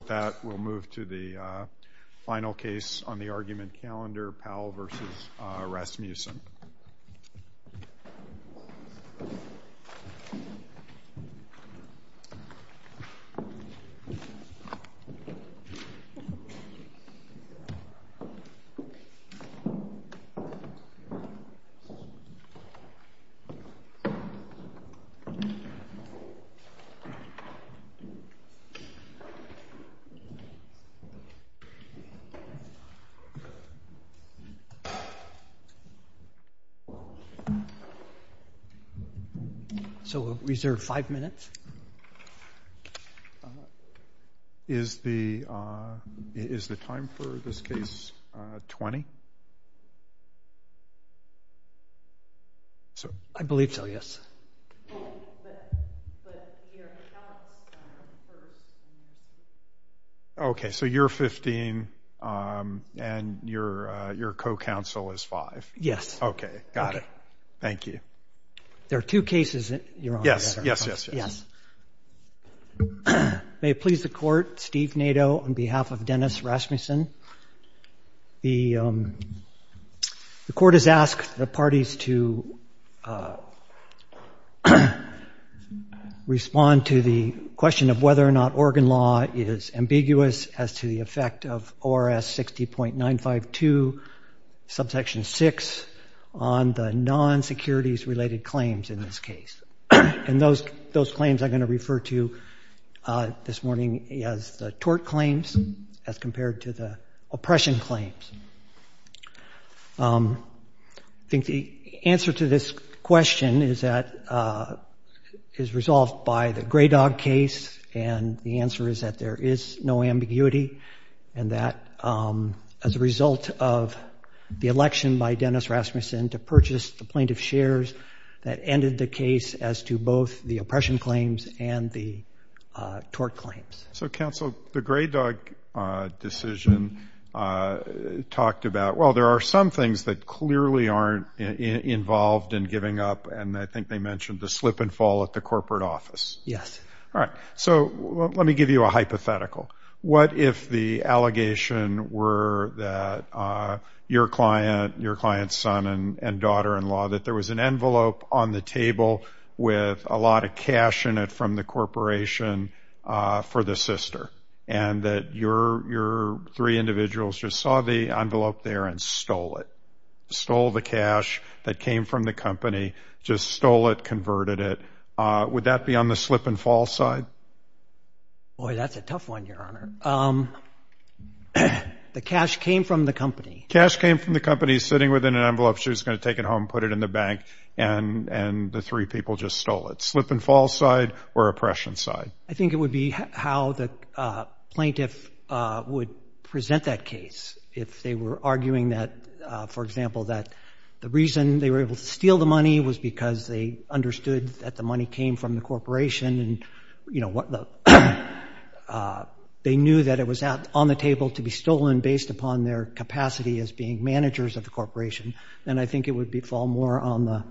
With that, we'll move to the final case on the argument calendar, Powell v. Rasmussen. So we'll reserve five minutes. Is the time for this case 20? I believe so, yes. Okay, so you're 15 and your co-counsel is 5. Yes. Okay, got it. Thank you. There are two cases that you're on together. Yes, yes, yes, yes. May it please the court, Steve Nadeau on behalf of Dennis Rasmussen. The court has asked the parties to respond to the question of whether or not Oregon law is ambiguous as to the effect of ORS 60.952, subsection 6, on the non-securities related claims in this case. And those claims I'm going to refer to this morning as the tort claims as compared to the oppression claims. I think the answer to this question is that, is resolved by the Grey Dog case. And the answer is that there is no ambiguity and that as a result of the election by Dennis Rasmussen to purchase the plaintiff's shares, that ended the case as to both the oppression claims and the tort claims. So, counsel, the Grey Dog decision talked about, well, there are some things that clearly aren't involved in giving up and I think they mentioned the slip and fall at the corporate office. Yes. All right. So, let me give you a hypothetical. What if the allegation were that your client's son and daughter-in-law, that there was an envelope on the table with a lot of cash in it from the corporation for the sister. And that your three individuals just saw the envelope there and stole it. Stole the cash that came from the company, just stole it, converted it. Would that be on the slip and fall side? Boy, that's a tough one, Your Honor. The cash came from the company. Cash came from the company, sitting within an envelope. She was going to take it home, put it in the bank, and the three people just stole it. Slip and fall side or oppression side? I think it would be how the plaintiff would present that case. If they were arguing that, for example, that the reason they were able to steal the money was because they understood that the money came from the corporation and they knew that it was on the table to be stolen based upon their capacity as being managers of the corporation, then I think it would fall more on the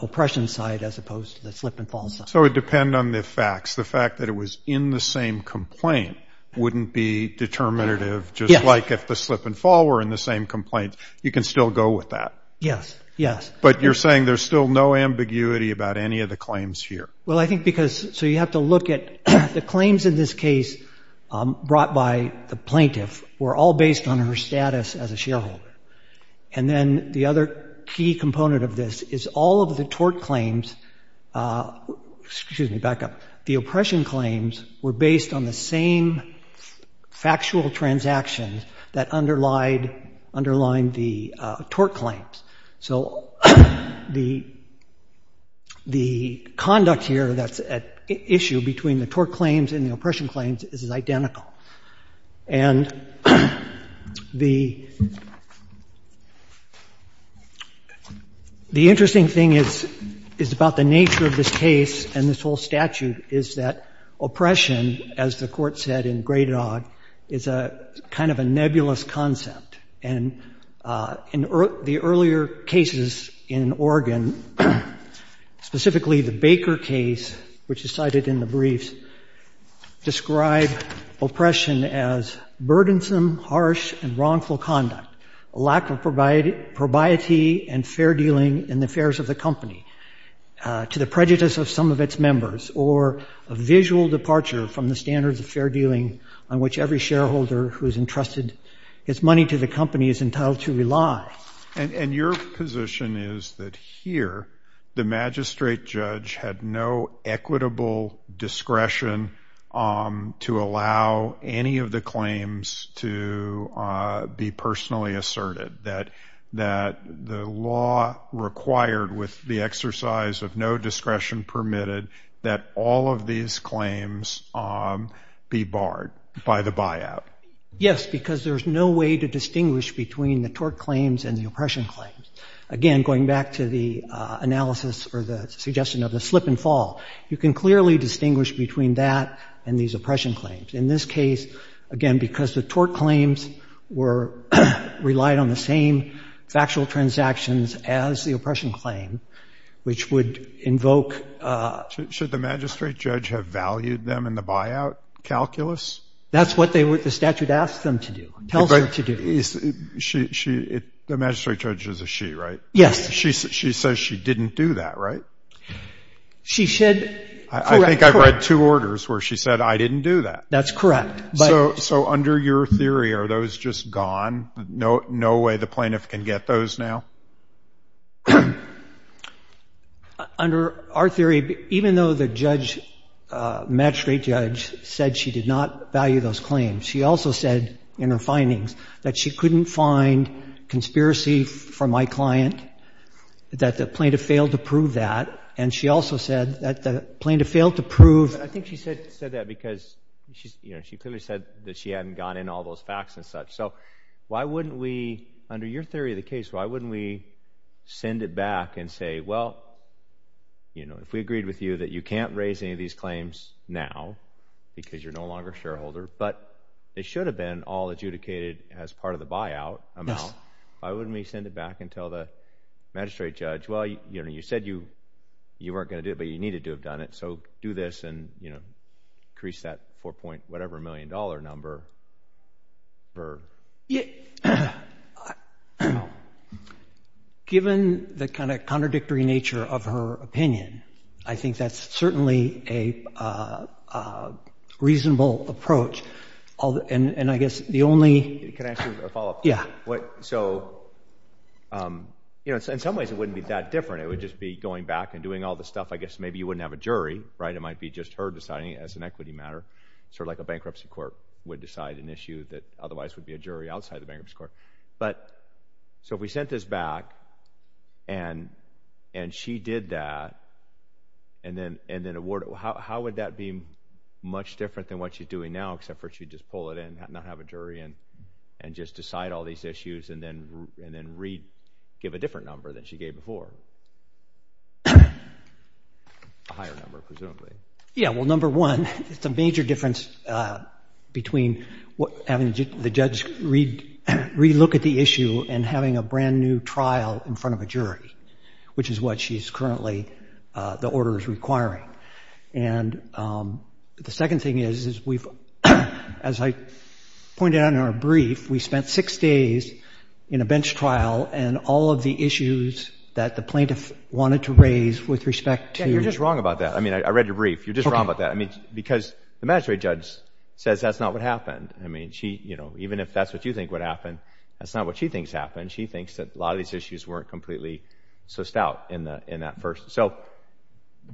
oppression side as opposed to the slip and fall side. So it would depend on the facts. The fact that it was in the same complaint wouldn't be determinative, just like if the slip and fall were in the same complaint. You can still go with that. Yes, yes. But you're saying there's still no ambiguity about any of the claims here. Well, I think because so you have to look at the claims in this case brought by the plaintiff were all based on her status as a shareholder. And then the other key component of this is all of the tort claims, excuse me, back up, the oppression claims were based on the same factual transactions that underlined the tort claims. So the conduct here that's at issue between the tort claims and the oppression claims is identical. And the interesting thing is about the nature of this case and this whole statute is that oppression, as the court said in great odd, is a kind of a nebulous concept. And in the earlier cases in Oregon, specifically the Baker case, which is cited in the briefs, describe oppression as burdensome, harsh and wrongful conduct, a lack of probiety and fair dealing in the affairs of the company to the prejudice of some of its members or a visual departure from the standards of fair dealing on which every shareholder who is entrusted his money to the company is entitled to rely. And your position is that here the magistrate judge had no equitable discretion to allow any of the claims to be personally asserted, that the law required with the exercise of no discretion permitted that all of these claims be barred by the buyout? Yes, because there's no way to distinguish between the tort claims and the oppression claims. Again, going back to the analysis or the suggestion of the slip and fall, you can clearly distinguish between that and these oppression claims. In this case, again, because the tort claims were relied on the same factual transactions as the oppression claim, which would invoke... Should the magistrate judge have valued them in the buyout calculus? That's what the statute asks them to do, tells them to do. The magistrate judge is a she, right? Yes. She says she didn't do that, right? She should... I think I've read two orders where she said, I didn't do that. That's correct. So under your theory, are those just gone? No way the plaintiff can get those now? Under our theory, even though the judge, magistrate judge, said she did not value those claims, she also said in her findings that she couldn't find conspiracy from my client, that the plaintiff failed to prove that, and she also said that the plaintiff failed to prove... I think she said that because she clearly said that she hadn't gone in all those facts and such. So why wouldn't we, under your theory of the case, why wouldn't we send it back and say, well, if we agreed with you that you can't raise any of these claims now because you're no longer a shareholder, but they should have been all adjudicated as part of the buyout amount, why wouldn't we send it back and tell the magistrate judge, well, you said you weren't going to do it, but you needed to have done it, so do this and, you know, increase that four-point-whatever-million-dollar number. Given the kind of contradictory nature of her opinion, I think that's certainly a reasonable approach. And I guess the only... Can I ask you a follow-up? Yeah. So, you know, in some ways it wouldn't be that different. It would just be going back and doing all the stuff. I guess maybe you wouldn't have a jury, right? It might be just her deciding as an equity matter, sort of like a bankruptcy court would decide an issue that otherwise would be a jury outside the bankruptcy court. But so if we sent this back and she did that and then awarded it, how would that be much different than what she's doing now, except for she'd just pull it in and not have a jury and just decide all these issues and then give a different number than she gave before? A higher number, presumably. Yeah, well, number one, it's a major difference between having the judge re-look at the issue and having a brand-new trial in front of a jury, which is what she's currently, the order is requiring. And the second thing is, is we've, as I pointed out in our brief, we spent six days in a bench trial and all of the issues that the plaintiff wanted to raise with respect to— Yeah, you're just wrong about that. I mean, I read your brief. You're just wrong about that. I mean, because the magistrate judge says that's not what happened. I mean, she, you know, even if that's what you think would happen, that's not what she thinks happened. She thinks that a lot of these issues weren't completely so stout in that first. So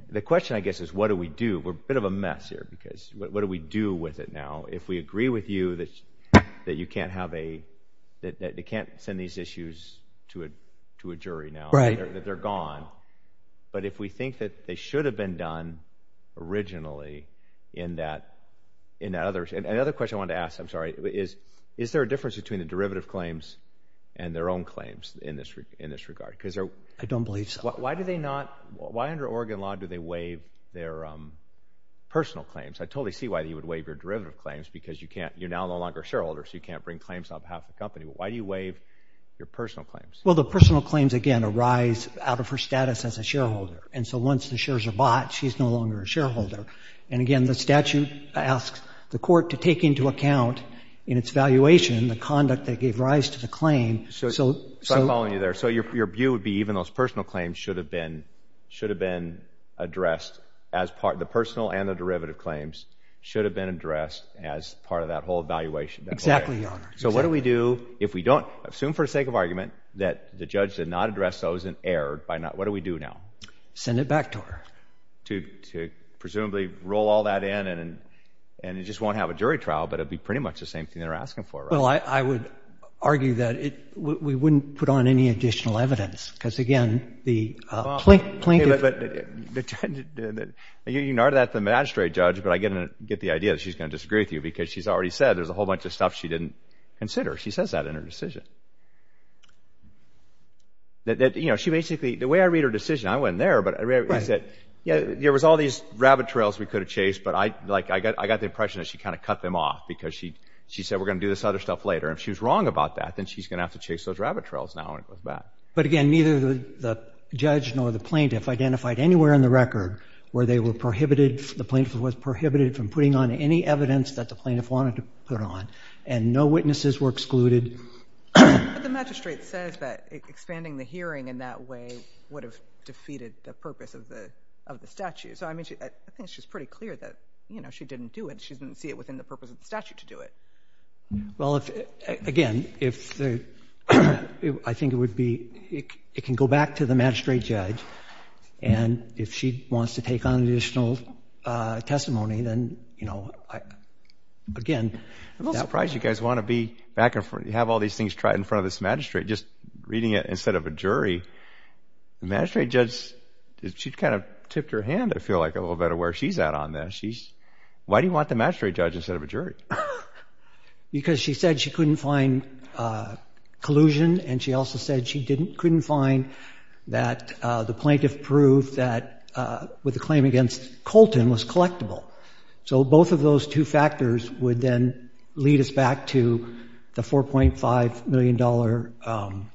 the question, I guess, is what do we do? We're a bit of a mess here because what do we do with it now if we agree with you that you can't have a— that they can't send these issues to a jury now, that they're gone. But if we think that they should have been done originally in that other— and another question I wanted to ask, I'm sorry, is, is there a difference between the derivative claims and their own claims in this regard? I don't believe so. Why do they not—why under Oregon law do they waive their personal claims? I totally see why you would waive your derivative claims because you can't—you're now no longer a shareholder, so you can't bring claims on behalf of the company. But why do you waive your personal claims? Well, the personal claims, again, arise out of her status as a shareholder. And so once the shares are bought, she's no longer a shareholder. And, again, the statute asks the court to take into account in its valuation the conduct that gave rise to the claim. So I'm following you there. So your view would be even those personal claims should have been addressed as part— the personal and the derivative claims should have been addressed as part of that whole evaluation. Exactly, Your Honor. So what do we do if we don't—assume, for the sake of argument, that the judge did not address those and erred by not—what do we do now? Send it back to her. To presumably roll all that in and it just won't have a jury trial, but it would be pretty much the same thing they're asking for, right? Well, I would argue that we wouldn't put on any additional evidence because, again, the plaintiff— You can argue that with the magistrate judge, but I get the idea that she's going to disagree with you because she's already said there's a whole bunch of stuff she didn't consider. She says that in her decision. You know, she basically—the way I read her decision, I went there, but I said, yeah, there was all these rabbit trails we could have chased, but I got the impression that she kind of cut them off because she said, okay, we're going to do this other stuff later. If she was wrong about that, then she's going to have to chase those rabbit trails now and go back. But, again, neither the judge nor the plaintiff identified anywhere in the record where they were prohibited—the plaintiff was prohibited from putting on any evidence that the plaintiff wanted to put on, and no witnesses were excluded. But the magistrate says that expanding the hearing in that way would have defeated the purpose of the statute. So, I mean, I think she's pretty clear that, you know, she didn't do it. Well, again, I think it would be—it can go back to the magistrate judge, and if she wants to take on additional testimony, then, you know, again— I'm a little surprised you guys want to be back and forth. You have all these things tried in front of this magistrate, just reading it instead of a jury. The magistrate judge, she kind of tipped her hand, I feel like, a little bit of where she's at on this. She's—why do you want the magistrate judge instead of a jury? Because she said she couldn't find collusion, and she also said she couldn't find that the plaintiff proved that with the claim against Colton was collectible. So both of those two factors would then lead us back to the $4.5 million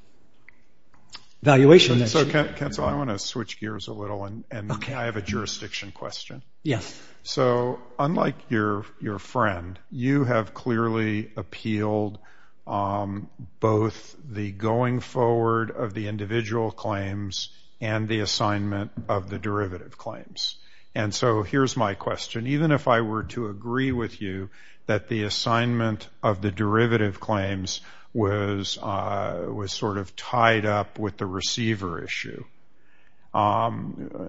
valuation. So, counsel, I want to switch gears a little, and I have a jurisdiction question. Yes. So unlike your friend, you have clearly appealed both the going forward of the individual claims and the assignment of the derivative claims. And so here's my question. Even if I were to agree with you that the assignment of the derivative claims was sort of tied up with the receiver issue,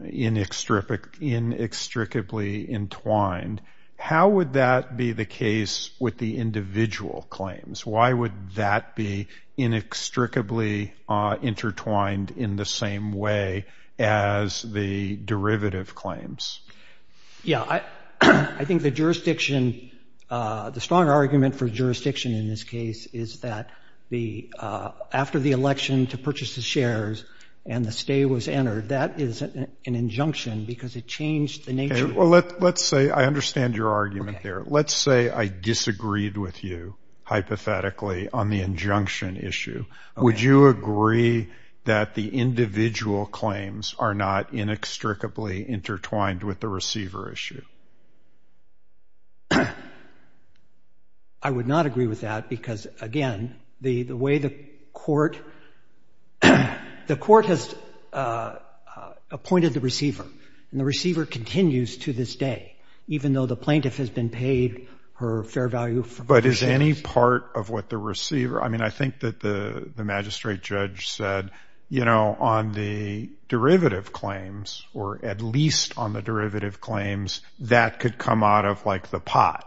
inextricably entwined, how would that be the case with the individual claims? Why would that be inextricably intertwined in the same way as the derivative claims? Yeah. I think the jurisdiction—the strong argument for jurisdiction in this case is that after the election to purchase the shares and the stay was entered, that is an injunction because it changed the nature. Okay. Well, let's say—I understand your argument there. Let's say I disagreed with you hypothetically on the injunction issue. Would you agree that the individual claims are not inextricably intertwined with the receiver issue? I would not agree with that because, again, the way the court— the court has appointed the receiver, and the receiver continues to this day, even though the plaintiff has been paid her fair value for— But is any part of what the receiver—I mean, I think that the magistrate judge said, you know, on the derivative claims, or at least on the derivative claims, that could come out of, like, the pot.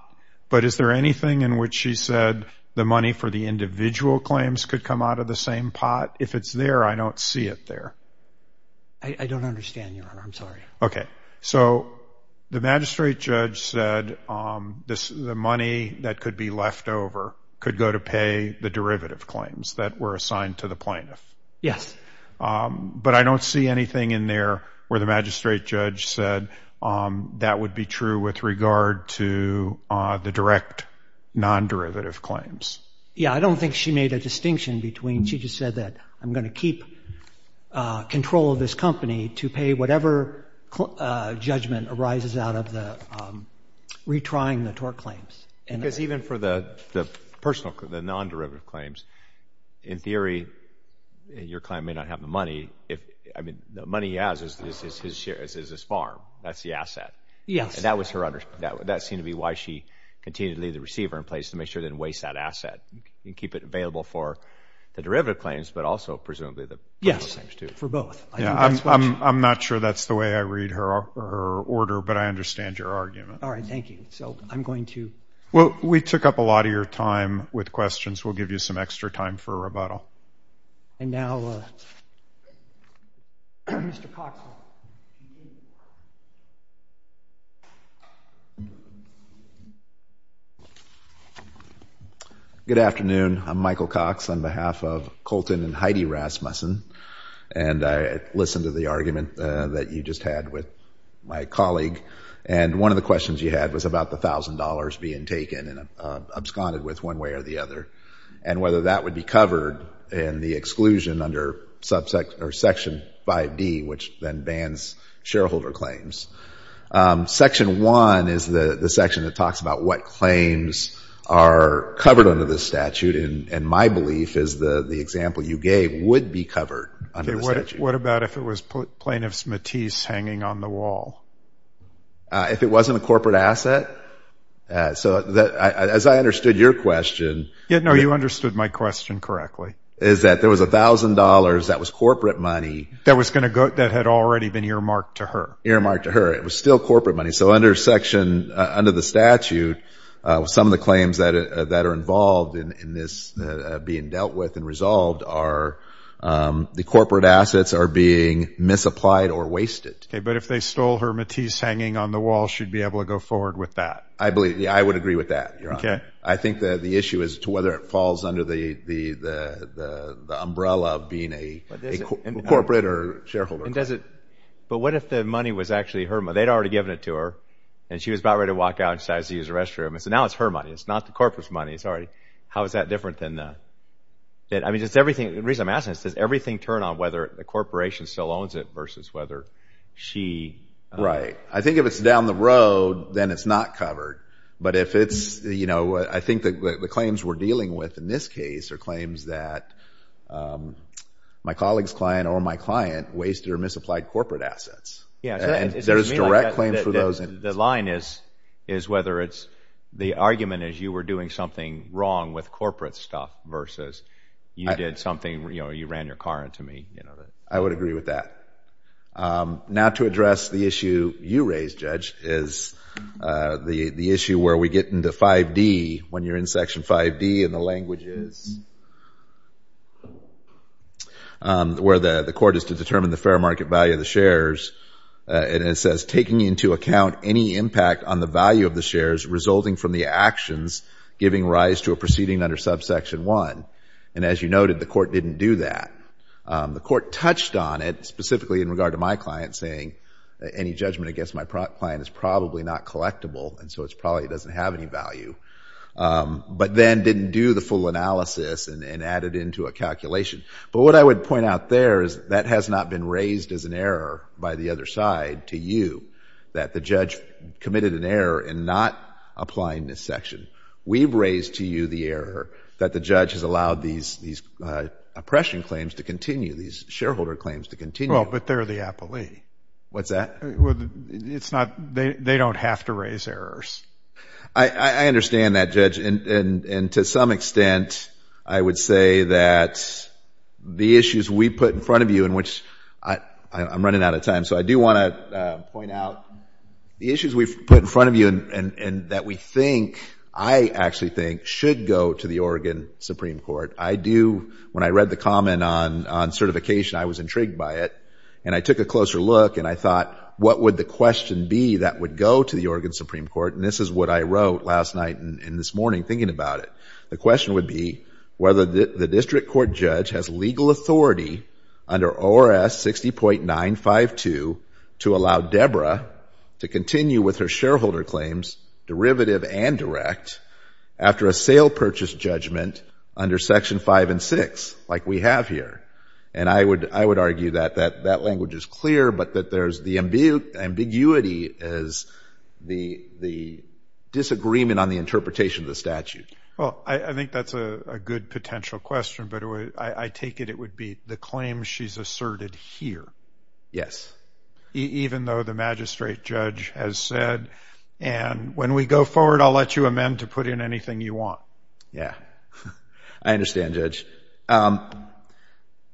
But is there anything in which she said the money for the individual claims could come out of the same pot? If it's there, I don't see it there. I don't understand, Your Honor. I'm sorry. Okay. So the magistrate judge said the money that could be left over could go to pay the derivative claims that were assigned to the plaintiff. Yes. But I don't see anything in there where the magistrate judge said that would be true with regard to the direct non-derivative claims. Yeah. I don't think she made a distinction between— Judgment arises out of the retrying the tort claims. Because even for the non-derivative claims, in theory, your client may not have the money. I mean, the money he has is his farm. That's the asset. Yes. And that seemed to be why she continued to leave the receiver in place to make sure it didn't waste that asset and keep it available for the derivative claims, but also, presumably, the pot claims too. Yes, for both. I'm not sure that's the way I read her order, but I understand your argument. All right. Thank you. So I'm going to— Well, we took up a lot of your time with questions. We'll give you some extra time for a rebuttal. And now Mr. Cox. Good afternoon. I'm Michael Cox on behalf of Colton and Heidi Rasmussen. And I listened to the argument that you just had with my colleague. And one of the questions you had was about the $1,000 being taken and absconded with one way or the other and whether that would be covered in the exclusion under Section 5D, which then bans shareholder claims. Section 1 is the section that talks about what claims are covered under this statute. And my belief is the example you gave would be covered under the statute. What about if it was Plaintiff's Matisse hanging on the wall? If it wasn't a corporate asset? So as I understood your question— No, you understood my question correctly. Is that there was $1,000 that was corporate money— That was going to go—that had already been earmarked to her. Earmarked to her. It was still corporate money. So under the statute, some of the claims that are involved in this being dealt with and resolved are the corporate assets are being misapplied or wasted. But if they stole her Matisse hanging on the wall, she'd be able to go forward with that. I believe—I would agree with that, Your Honor. I think the issue is to whether it falls under the umbrella of being a corporate or shareholder. But what if the money was actually her money? They'd already given it to her, and she was about ready to walk out and decides to use the restroom. So now it's her money. It's not the corporate's money. How is that different than—I mean, just everything—the reason I'm asking is, does everything turn on whether the corporation still owns it versus whether she— Right. I think if it's down the road, then it's not covered. But if it's—I think the claims we're dealing with in this case are claims that my colleague's client or my client wasted or misapplied corporate assets. Yeah. Is there a direct claim for those? The line is whether it's the argument is you were doing something wrong with corporate stuff versus you did something—you ran your car into me. I would agree with that. Now to address the issue you raised, Judge, is the issue where we get into 5D, when you're in Section 5D and the language is where the court is to determine the fair market value of the shares, and it says, taking into account any impact on the value of the shares resulting from the actions giving rise to a proceeding under Subsection 1. And as you noted, the court didn't do that. The court touched on it, specifically in regard to my client, saying any judgment against my client is probably not collectible, and so it probably doesn't have any value, but then didn't do the full analysis and add it into a calculation. But what I would point out there is that has not been raised as an error by the other side to you, that the judge committed an error in not applying this section. We've raised to you the error that the judge has allowed these oppression claims to continue, these shareholder claims to continue. Well, but they're the appellee. What's that? They don't have to raise errors. I understand that, Judge, and to some extent, I would say that the issues we put in front of you, in which I'm running out of time, so I do want to point out the issues we've put in front of you and that we think, I actually think, should go to the Oregon Supreme Court. I do, when I read the comment on certification, I was intrigued by it, and I took a closer look and I thought, what would the question be that would go to the Oregon Supreme Court, and this is what I wrote last night and this morning thinking about it. The question would be whether the district court judge has legal authority under ORS 60.952 to allow Deborah to continue with her shareholder claims, derivative and direct, after a sale purchase judgment under Section 5 and 6, like we have here. And I would argue that that language is clear, but that there's the ambiguity as the disagreement on the interpretation of the statute. Well, I think that's a good potential question, but I take it it would be the claim she's asserted here. Yes. Even though the magistrate judge has said, and when we go forward, I'll let you amend to put in anything you want. Yeah. I understand, Judge. And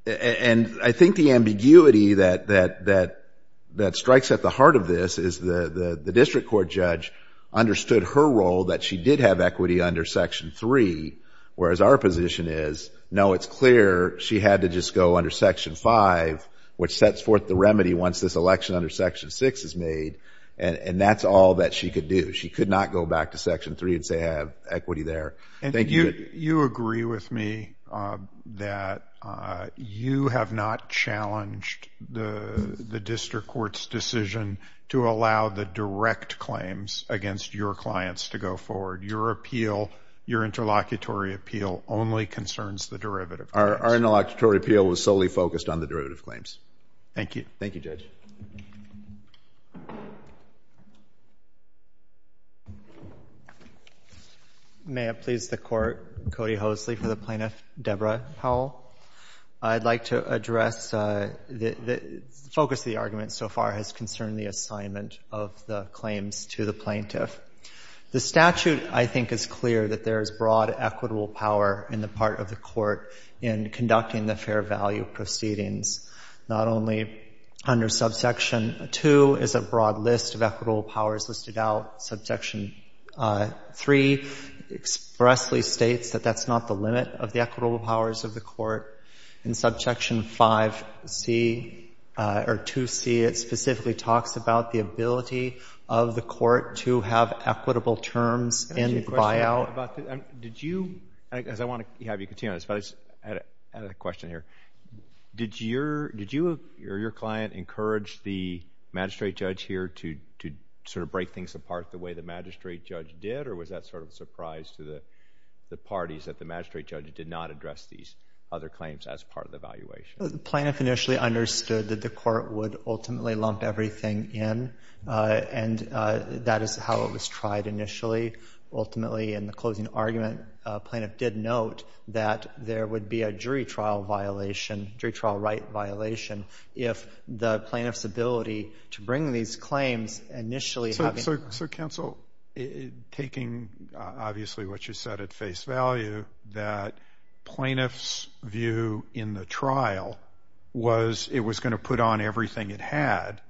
I think the ambiguity that strikes at the heart of this is the district court judge understood her role, that she did have equity under Section 3, whereas our position is, no, it's clear she had to just go under Section 5, which sets forth the remedy once this election under Section 6 is made, and that's all that she could do. She could not go back to Section 3 and say, I have equity there. And you agree with me that you have not challenged the district court's decision to allow the direct claims against your clients to go forward. Your appeal, your interlocutory appeal, only concerns the derivative claims. Our interlocutory appeal was solely focused on the derivative claims. Thank you. Thank you, Judge. May it please the Court, Cody Hosley for the plaintiff, Debra Powell. I'd like to address the focus of the argument so far has concerned the assignment of the claims to the plaintiff. The statute, I think, is clear that there is broad equitable power in the part of the court in conducting the fair value proceedings, not only under Section 3, but under Subsection 2 is a broad list of equitable powers listed out. Subsection 3 expressly states that that's not the limit of the equitable powers of the court. In Subsection 5C, or 2C, it specifically talks about the ability of the court to have equitable terms in buyout. Did you, as I want to have you continue on this, but I had a question here. Did you or your client encourage the magistrate judge here to sort of break things apart the way the magistrate judge did, or was that sort of a surprise to the parties that the magistrate judge did not address these other claims as part of the evaluation? The plaintiff initially understood that the court would ultimately lump everything in, and that is how it was tried initially. Ultimately, in the closing argument, the plaintiff did note that there would be a jury trial violation, jury trial right violation, if the plaintiff's ability to bring these claims initially... So, counsel, taking obviously what you said at face value, that plaintiff's view in the trial was it was going to put on everything it had.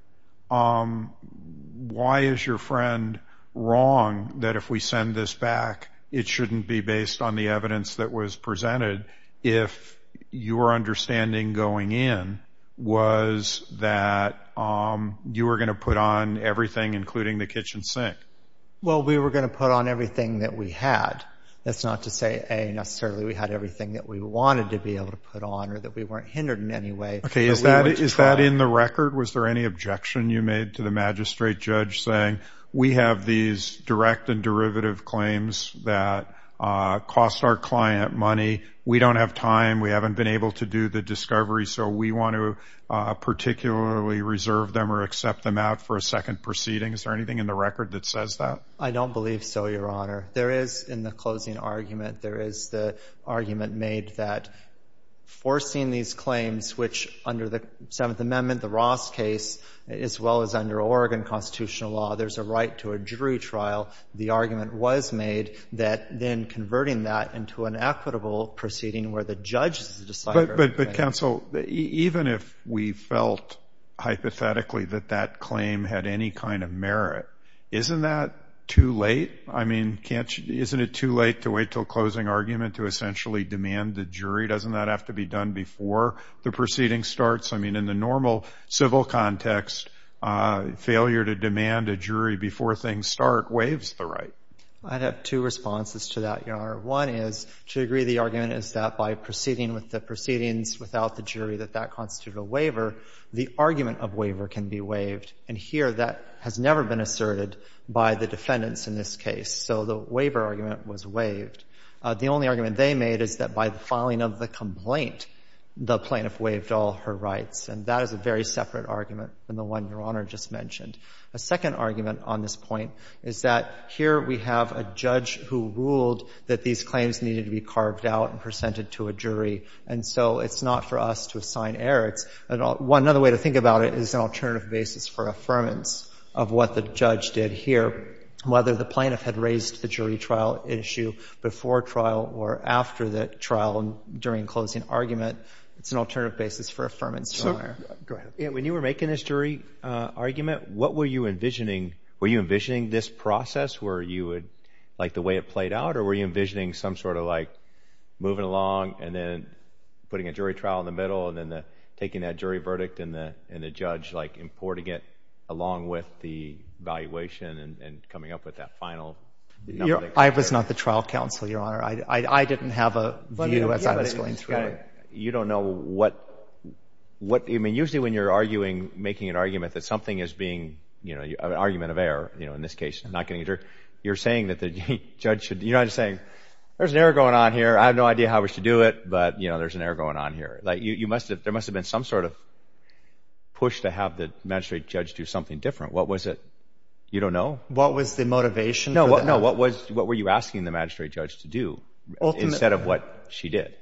Why is your friend wrong that if we send this back, it shouldn't be based on the evidence that was presented, if your understanding going in was that you were going to put on everything, including the kitchen sink? Well, we were going to put on everything that we had. That's not to say, A, necessarily we had everything that we wanted to be able to put on or that we weren't hindered in any way. Okay. Is that in the record? Was there any objection you made to the magistrate judge saying we have these direct and derivative claims that cost our client money, we don't have time, we haven't been able to do the discovery, so we want to particularly reserve them or accept them out for a second proceeding? Is there anything in the record that says that? I don't believe so, Your Honor. There is, in the closing argument, there is the argument made that forcing these claims, which under the Seventh Amendment, the Ross case, as well as under Oregon constitutional law, there's a right to a jury trial, the argument was made that then converting that into an equitable proceeding where the judge... But, counsel, even if we felt hypothetically that that claim had any kind of merit, isn't that too late? I mean, isn't it too late to wait until closing argument to essentially demand the jury? Doesn't that have to be done before the proceeding starts? I mean, in the normal civil context, failure to demand a jury before things start waives the right. I'd have two responses to that, Your Honor. One is to agree the argument is that by proceeding with the proceedings without the jury that that constitutes a waiver, the argument of waiver can be waived. And here, that has never been asserted by the defendants in this case. So the waiver argument was waived. The only argument they made is that by the filing of the complaint, the plaintiff waived all her rights. And that is a very separate argument than the one Your Honor just mentioned. A second argument on this point is that here we have a judge who ruled that these claims needed to be carved out and presented to a jury. And so it's not for us to assign errors. Another way to think about it is an alternative basis for affirmance of what the judge did here, whether the plaintiff had raised the jury trial issue before trial or after the trial and during closing argument. It's an alternative basis for affirmance. When you were making this jury argument, what were you envisioning? Were you envisioning this process where you would like the way it played out or were you envisioning some sort of like moving along and then putting a jury trial in the middle and then taking that jury verdict and the judge like importing it along with the evaluation and coming up with that final. I was not the trial counsel, Your Honor. I didn't have a view as I was going through it. You don't know what, I mean, usually when you're arguing, making an argument that something is being, you know, an argument of error, you know, in this case, not getting a jury, you're saying that the judge should, you know, I'm just saying there's an error going on here. I have no idea how I was to do it, but, you know, there's an error going on here. Like you must have, there must have been some sort of push to have the magistrate judge do something different. What was it? You don't know? What was the motivation? No, what was, what were you asking the magistrate judge to do instead of what she did?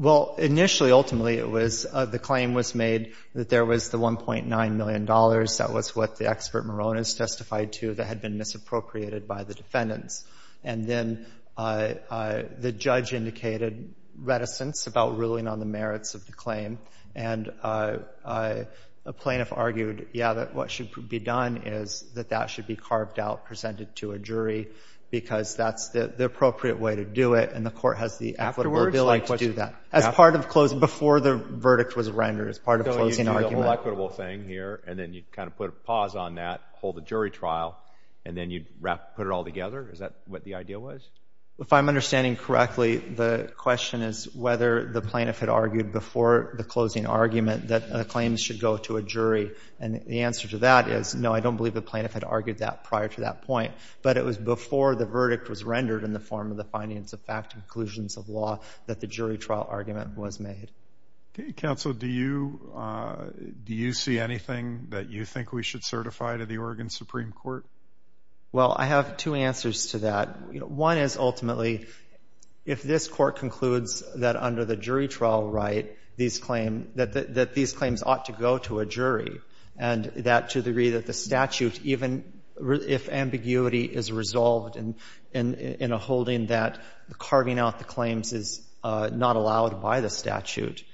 Well, initially, ultimately, it was the claim was made that there was the $1.9 million. That was what the expert Moronis testified to that had been misappropriated by the defendants. And then the judge indicated reticence about ruling on the merits of the claim. And a plaintiff argued, yeah, that what should be done is that that should be carved out, presented to a jury, because that's the appropriate way to do it, and the court has the equitable ability to do that. Afterwards? As part of closing, before the verdict was rendered, as part of closing argument. So you do the whole equitable thing here, and then you kind of put a pause on that, hold a jury trial, and then you put it all together? Is that what the idea was? If I'm understanding correctly, the question is whether the plaintiff had argued before the closing argument that the claims should go to a jury. And the answer to that is no, I don't believe the plaintiff had argued that prior to that point, but it was before the verdict was rendered in the form of the findings of fact and conclusions of law that the jury trial argument was made. Counsel, do you see anything that you think we should certify to the Oregon Supreme Court? Well, I have two answers to that. One is, ultimately, if this court concludes that under the jury trial right, that these claims ought to go to a jury, and that to the degree that the statute, even if ambiguity is resolved in a holding that carving out the claims is not allowed by the statute,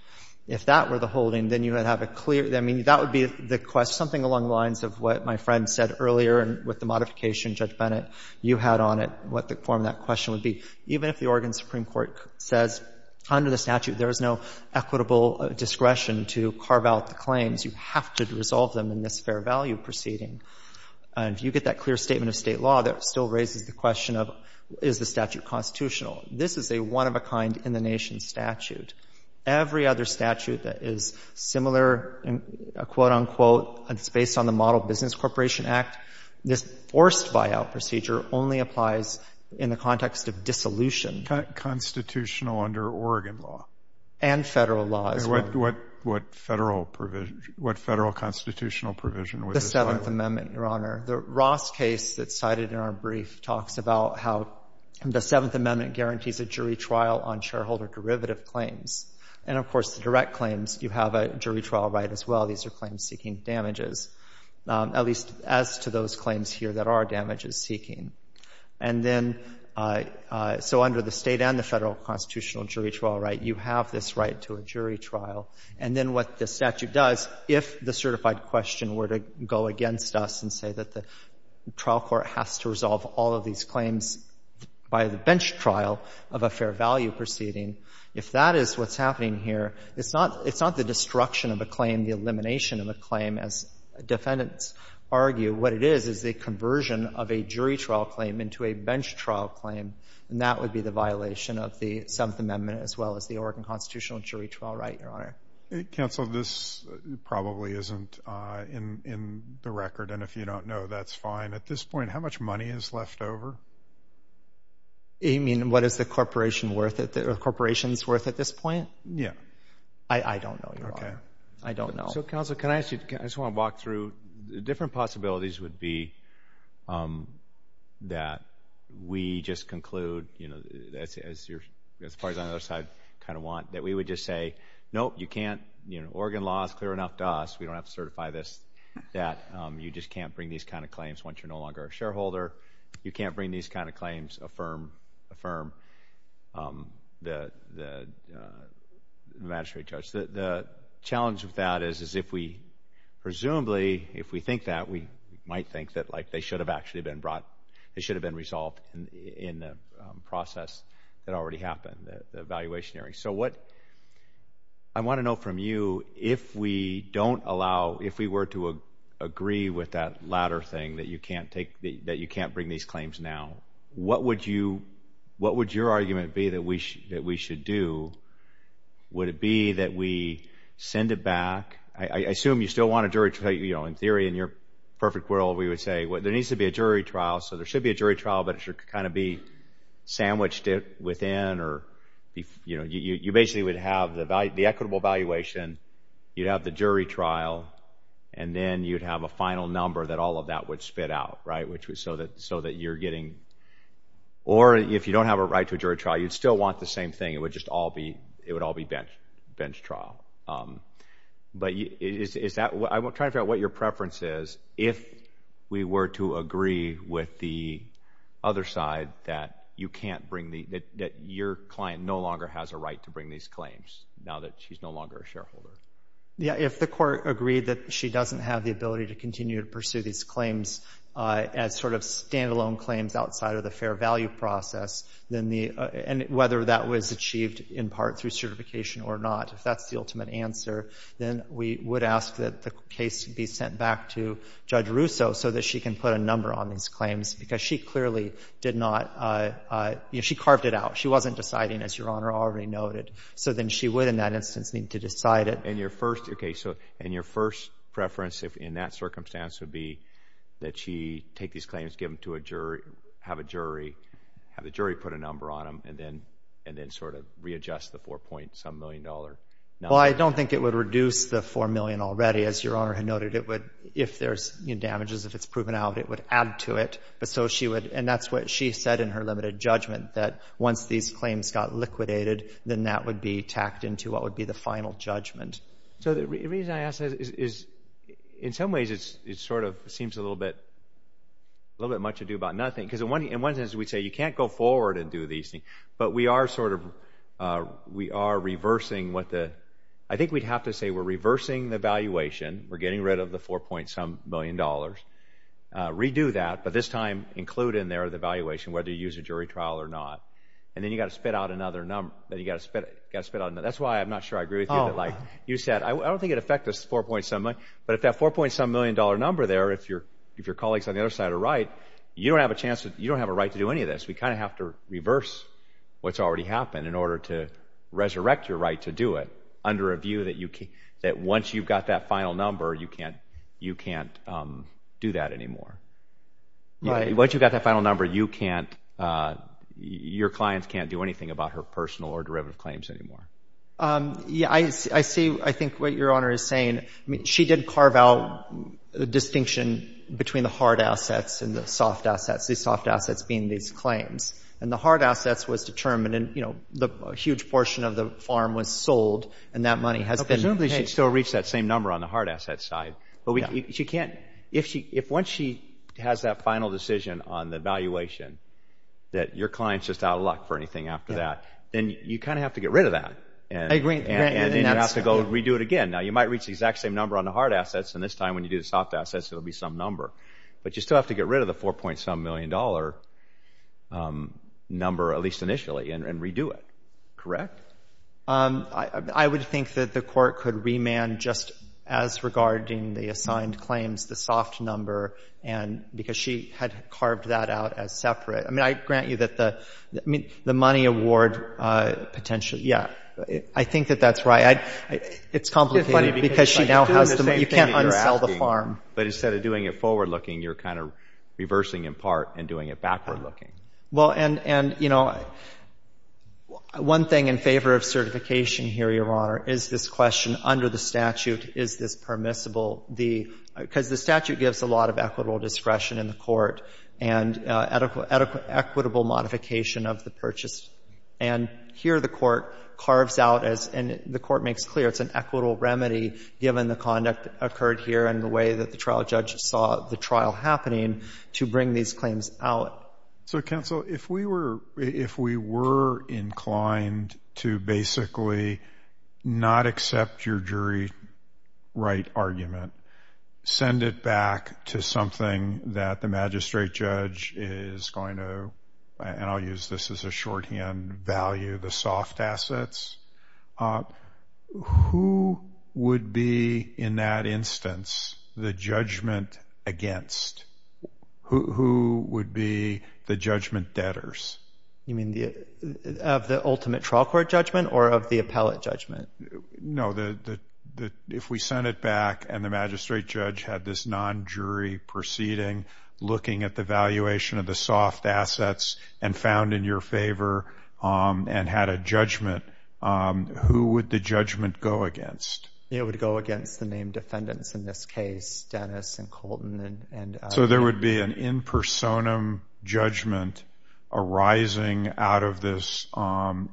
if that were the holding, then you would have a clear, I mean, that would be the question, something along the lines of what my friend said earlier with the modification, Judge Bennett, you had on it, what the form of that question would be. Even if the Oregon Supreme Court says under the statute there is no equitable discretion to carve out the claims, you have to resolve them in this fair value proceeding. If you get that clear statement of state law, that still raises the question of, is the statute constitutional? This is a one-of-a-kind, in-the-nation statute. Every other statute that is similar, quote, unquote, and it's based on the Model Business Corporation Act, this forced buyout procedure only applies in the context of dissolution. Constitutional under Oregon law? And Federal law as well. And what Federal provision, what Federal constitutional provision would this apply to? The Seventh Amendment, Your Honor. The Ross case that's cited in our brief talks about how the Seventh Amendment guarantees a jury trial on shareholder derivative claims. And, of course, the direct claims, you have a jury trial right as well. These are claims seeking damages, at least as to those claims here that are damages seeking. And then, so under the state and the Federal constitutional jury trial right, you have this right to a jury trial. And then what the statute does, if the certified question were to go against us and say that the trial court has to resolve all of these claims by the bench trial of a fair value proceeding, if that is what's happening here, it's not the destruction of a claim, the elimination of a claim, as defendants argue. What it is is the conversion of a jury trial claim into a bench trial claim. And that would be the violation of the Seventh Amendment Okay. Counsel, this probably isn't in the record, and if you don't know, that's fine. At this point, how much money is left over? You mean what is the corporation's worth at this point? Yeah. I don't know, Your Honor. I don't know. So, Counsel, can I ask you, I just want to walk through. The different possibilities would be that we just conclude, you know, as far as on the other side kind of want, that we would just say, nope, you can't, you know, Oregon law is clear enough to us, we don't have to certify this, that you just can't bring these kind of claims once you're no longer a shareholder. You can't bring these kind of claims, affirm the magistrate judge. The challenge with that is if we presumably, if we think that, we might think that, like, they should have actually been brought, they should have been resolved in the process that already happened, the evaluation hearing. So what I want to know from you, if we don't allow, if we were to agree with that latter thing, that you can't take, that you can't bring these claims now, what would you, what would your argument be that we should do? Would it be that we send it back? I assume you still want a jury trial, you know, in theory, in your perfect world, we would say, well, there needs to be a jury trial, so there should be a jury trial, but it should kind of be sandwiched within, or, you know, you basically would have the equitable evaluation, you'd have the jury trial, and then you'd have a final number that all of that would spit out, right, so that you're getting, or if you don't have a right to a jury trial, you'd still want the same thing, it would just all be, it would all be bench trial. But is that, I'm trying to figure out what your preference is, if we were to agree with the other side that you can't bring the, that your client no longer has a right to bring these claims, now that she's no longer a shareholder. Yeah, if the court agreed that she doesn't have the ability to continue to pursue these claims as sort of standalone claims outside of the fair value process, then the, and whether that was achieved in part through certification or not, if that's the ultimate answer, then we would ask that the case be sent back to Judge Russo so that she can put a number on these claims, because she clearly did not, you know, she carved it out, she wasn't deciding, as Your Honor already noted, so then she would in that instance need to decide it. And your first, okay, so, and your first preference in that circumstance would be that she take these claims, give them to a jury, have a jury, have the jury put a number on them, and then sort of readjust the $4.some million? Well, I don't think it would reduce the $4 million already. As Your Honor had noted, it would, if there's, you know, damages, if it's proven out, it would add to it. But so she would, and that's what she said in her limited judgment, that once these claims got liquidated, then that would be tacked into what would be the final judgment. So the reason I ask that is, in some ways, it sort of seems a little bit, a little bit much ado about nothing. Because in one instance, we'd say you can't go forward and do these things, but we are sort of, we are reversing what the, I think we'd have to say we're reversing the valuation, we're getting rid of the $4.some million, redo that, but this time include in there the valuation, whether you use a jury trial or not. And then you've got to spit out another number, then you've got to spit out another, that's why I'm not sure I agree with you, but like you said, I don't think it affects the $4.some million, but if that $4.some million number there, if your colleagues on the other side are right, you don't have a chance, you don't have a right to do any of this. We kind of have to reverse what's already happened in order to resurrect your right to do it under a view that once you've got that final number, you can't do that anymore. Once you've got that final number, you can't, your clients can't do anything about her personal or derivative claims anymore. Yeah, I see, I think what Your Honor is saying, she did carve out the distinction between the hard assets and the soft assets, the soft assets being these claims. And the hard assets was determined and a huge portion of the farm was sold and that money has been paid. Presumably she still reached that same number on the hard asset side. But she can't, if once she has that final decision on the valuation, that your client's just out of luck for anything after that, then you kind of have to get rid of that. I agree. And then you have to go redo it again. Now, you might reach the exact same number on the hard assets, and this time when you do the soft assets, it will be some number. But you still have to get rid of the $4.some million number, at least initially, and redo it, correct? I would think that the Court could remand just as regarding the assigned claims, the soft number, because she had carved that out as separate. I grant you that the money award potentially, yeah, I think that that's right. It's complicated because she now has the money. You can't unsell the farm. But instead of doing it forward-looking, you're kind of reversing in part and doing it backward-looking. Well, and, you know, one thing in favor of certification here, Your Honor, is this question under the statute, is this permissible? Because the statute gives a lot of equitable discretion in the Court and equitable modification of the purchase. And here the Court carves out, and the Court makes clear, it's an equitable remedy given the conduct occurred here and the way that the trial judge saw the trial happening to bring these claims out. So, counsel, if we were inclined to basically not accept your jury right argument, send it back to something that the magistrate judge is going to, and I'll use this as a shorthand value, the soft assets, who would be in that instance the judgment against? Who would be the judgment debtors? You mean of the ultimate trial court judgment or of the appellate judgment? No, if we send it back and the magistrate judge had this non-jury proceeding looking at the valuation of the soft assets and found in your favor and had a judgment, who would the judgment go against? It would go against the named defendants, in this case Dennis and Colton. So there would be an in personam judgment arising out of this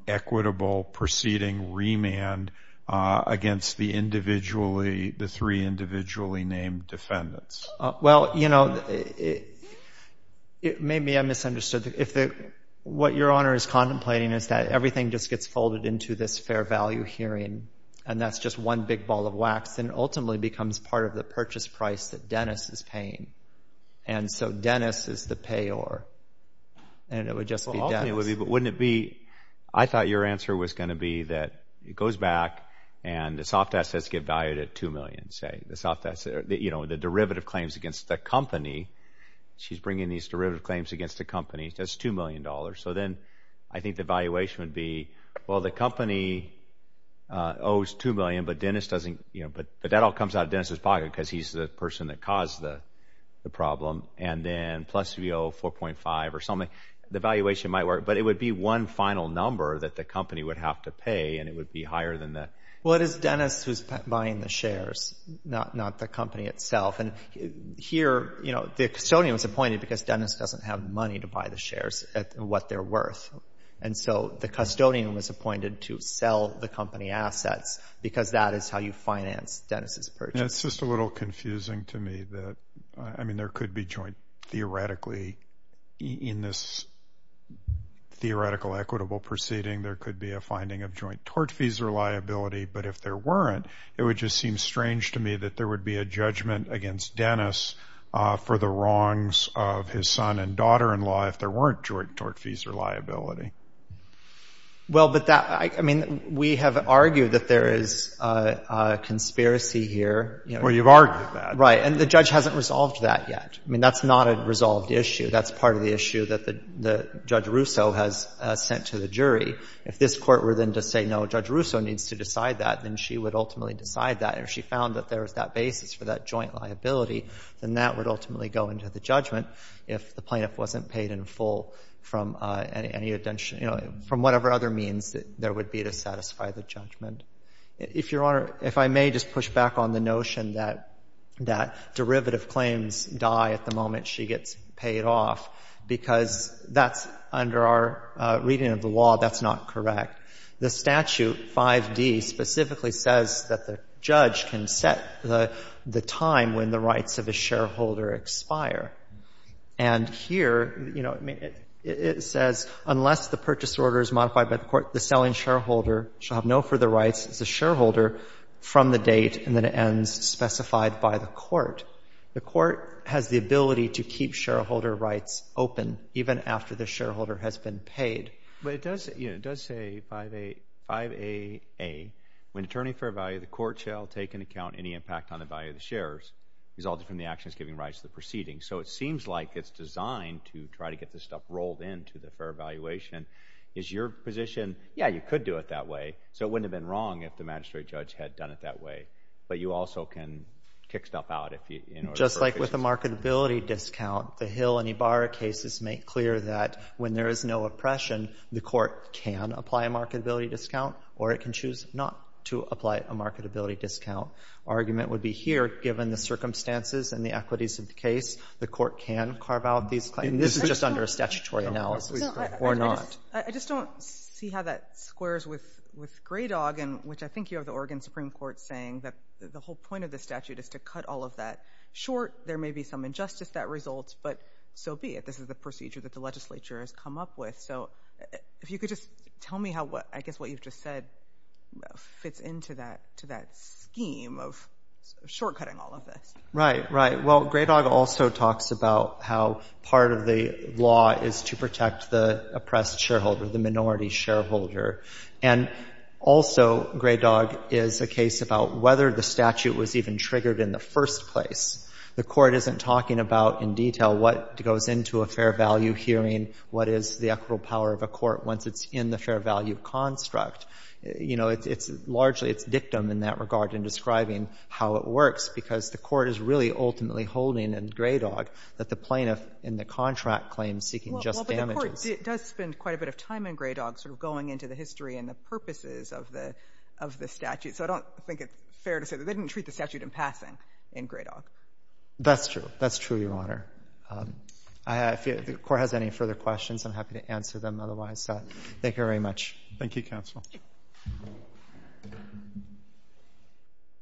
equitable proceeding remand against the three individually named defendants? Well, you know, maybe I misunderstood. What Your Honor is contemplating is that everything just gets folded into this fair value hearing and that's just one big ball of wax and ultimately becomes part of the purchase price that Dennis is paying. And so Dennis is the payor and it would just be Dennis. But wouldn't it be, I thought your answer was going to be that it goes back and the soft assets get valued at $2 million, say. The derivative claims against the company, she's bringing these derivative claims against the company, that's $2 million. So then I think the valuation would be, well the company owes $2 million, but that all comes out of Dennis' pocket because he's the person that caused the problem. And then plus we owe $4.5 or something. The valuation might work, but it would be one final number that the company would have to pay and it would be higher than that. Well, it is Dennis who's buying the shares, not the company itself. And here, you know, the custodian was appointed because Dennis doesn't have money to buy the shares at what they're worth. And so the custodian was appointed to sell the company assets because that is how you finance Dennis' purchase. And it's just a little confusing to me that, I mean, there could be joint theoretically, in this theoretical equitable proceeding, there could be a finding of joint tort fees or liability. But if there weren't, it would just seem strange to me that there would be a judgment against Dennis for the wrongs of his son and daughter-in-law if there weren't joint tort fees or liability. Well, but that, I mean, we have argued that there is a conspiracy here. Well, you've argued that. Right. And the judge hasn't resolved that yet. I mean, that's not a resolved issue. That's part of the issue that Judge Russo has sent to the jury. If this Court were then to say, no, Judge Russo needs to decide that, then she would ultimately decide that. And if she found that there was that basis for that joint liability, then that would ultimately go into the judgment if the plaintiff wasn't paid in full from any, you know, from whatever other means there would be to satisfy the judgment. If Your Honor, if I may just push back on the notion that derivative claims die at the moment she gets paid off, because that's, under our reading of the law, that's not correct. The statute, 5D, specifically says that the judge can set the time when the rights of a shareholder expire. And here, you know, it says, unless the purchase order is modified by the court, shall have no further rights as a shareholder from the date, and then it ends specified by the court. The court has the ability to keep shareholder rights open even after the shareholder has been paid. But it does, you know, it does say 5AA, when determining fair value, the court shall take into account any impact on the value of the shares resulting from the actions giving rise to the proceeding. So it seems like it's designed to try to get this stuff rolled into the fair valuation. Is your position, yeah, you could do it that way, so it wouldn't have been wrong if the magistrate judge had done it that way. But you also can kick stuff out if you, you know, Just like with a marketability discount, the Hill and Ibarra cases make clear that when there is no oppression, the court can apply a marketability discount, or it can choose not to apply a marketability discount. Argument would be here, given the circumstances and the equities of the case, the court can carve out these claims. This is just under a statutory analysis, or not. I just don't see how that squares with Grey Dog, which I think you have the Oregon Supreme Court saying that the whole point of the statute is to cut all of that short. There may be some injustice that results, but so be it. This is the procedure that the legislature has come up with. So if you could just tell me how, I guess what you've just said, fits into that scheme of shortcutting all of this. Right, right. Well, Grey Dog also talks about how part of the law is to protect the oppressed shareholder, the minority shareholder. And also, Grey Dog is a case about whether the statute was even triggered in the first place. The court isn't talking about in detail what goes into a fair value hearing, what is the equitable power of a court once it's in the fair value construct. You know, largely it's dictum in that regard in describing how it works, because the court is really ultimately holding in Grey Dog that the plaintiff in the contract claims seeking just damages. Well, but the court does spend quite a bit of time in Grey Dog sort of going into the history and the purposes of the statute. So I don't think it's fair to say that they didn't treat the statute in passing in Grey Dog. That's true. That's true, Your Honor. If the court has any further questions, I'm happy to answer them. Thank you, counsel.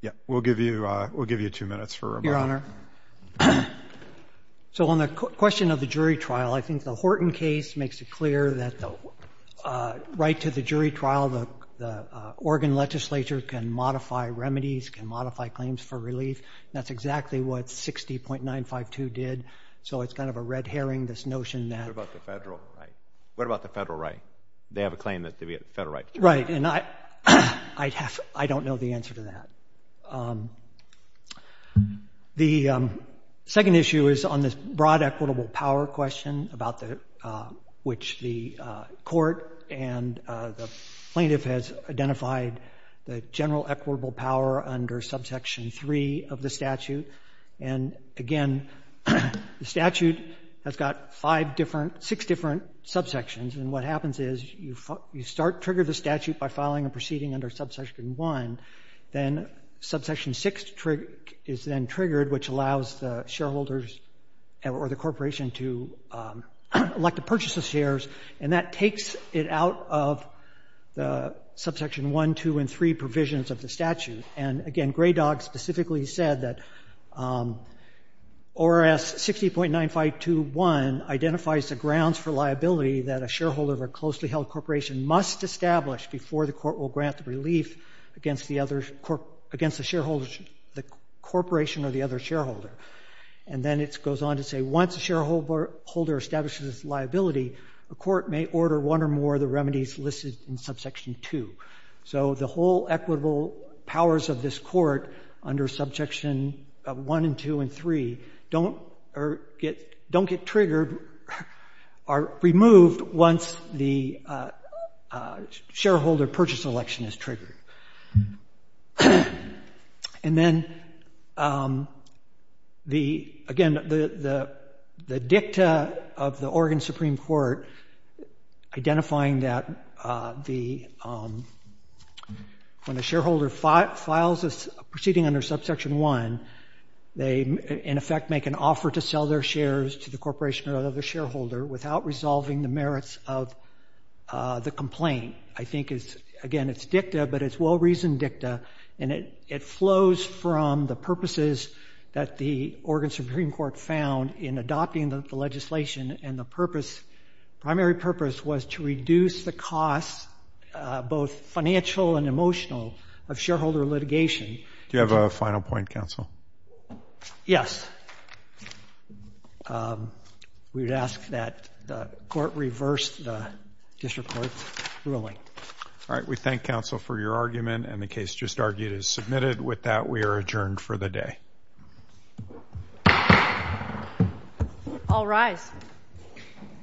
Yeah, we'll give you two minutes for rebuttal. Your Honor, so on the question of the jury trial, I think the Horton case makes it clear that the right to the jury trial, the Oregon legislature can modify remedies, can modify claims for relief. That's exactly what 60.952 did. So it's kind of a red herring, this notion that- What about the federal right? They have a claim that they have a federal right. Right, and I don't know the answer to that. The second issue is on this broad equitable power question, about which the court and the plaintiff has identified the general equitable power under subsection 3 of the statute. And again, the statute has got six different subsections, and what happens is you start to trigger the statute by filing a proceeding under subsection 1. Then subsection 6 is then triggered, which allows the shareholders or the corporation to elect to purchase the shares, and that takes it out of the subsection 1, 2, and 3 provisions of the statute. And again, Grey Dog specifically said that ORS 60.9521 identifies the grounds for liability that a shareholder of a closely held corporation must establish before the court will grant relief against the corporation or the other shareholder. And then it goes on to say once a shareholder establishes liability, the court may order one or more of the remedies listed in subsection 2. So the whole equitable powers of this court under subsection 1 and 2 and 3 don't get triggered or removed once the shareholder purchase election is triggered. And then, again, the dicta of the Oregon Supreme Court identifying that when a shareholder files a proceeding under subsection 1, they in effect make an offer to sell their shares to the corporation or other shareholder without resolving the merits of the complaint. I think, again, it's dicta, but it's well-reasoned dicta, and it flows from the purposes that the Oregon Supreme Court found in adopting the legislation, and the primary purpose was to reduce the costs, both financial and emotional, of shareholder litigation. Do you have a final point, counsel? Yes. We would ask that the court reverse the district court's ruling. All right. We thank counsel for your argument, and the case just argued is submitted. With that, we are adjourned for the day. All rise.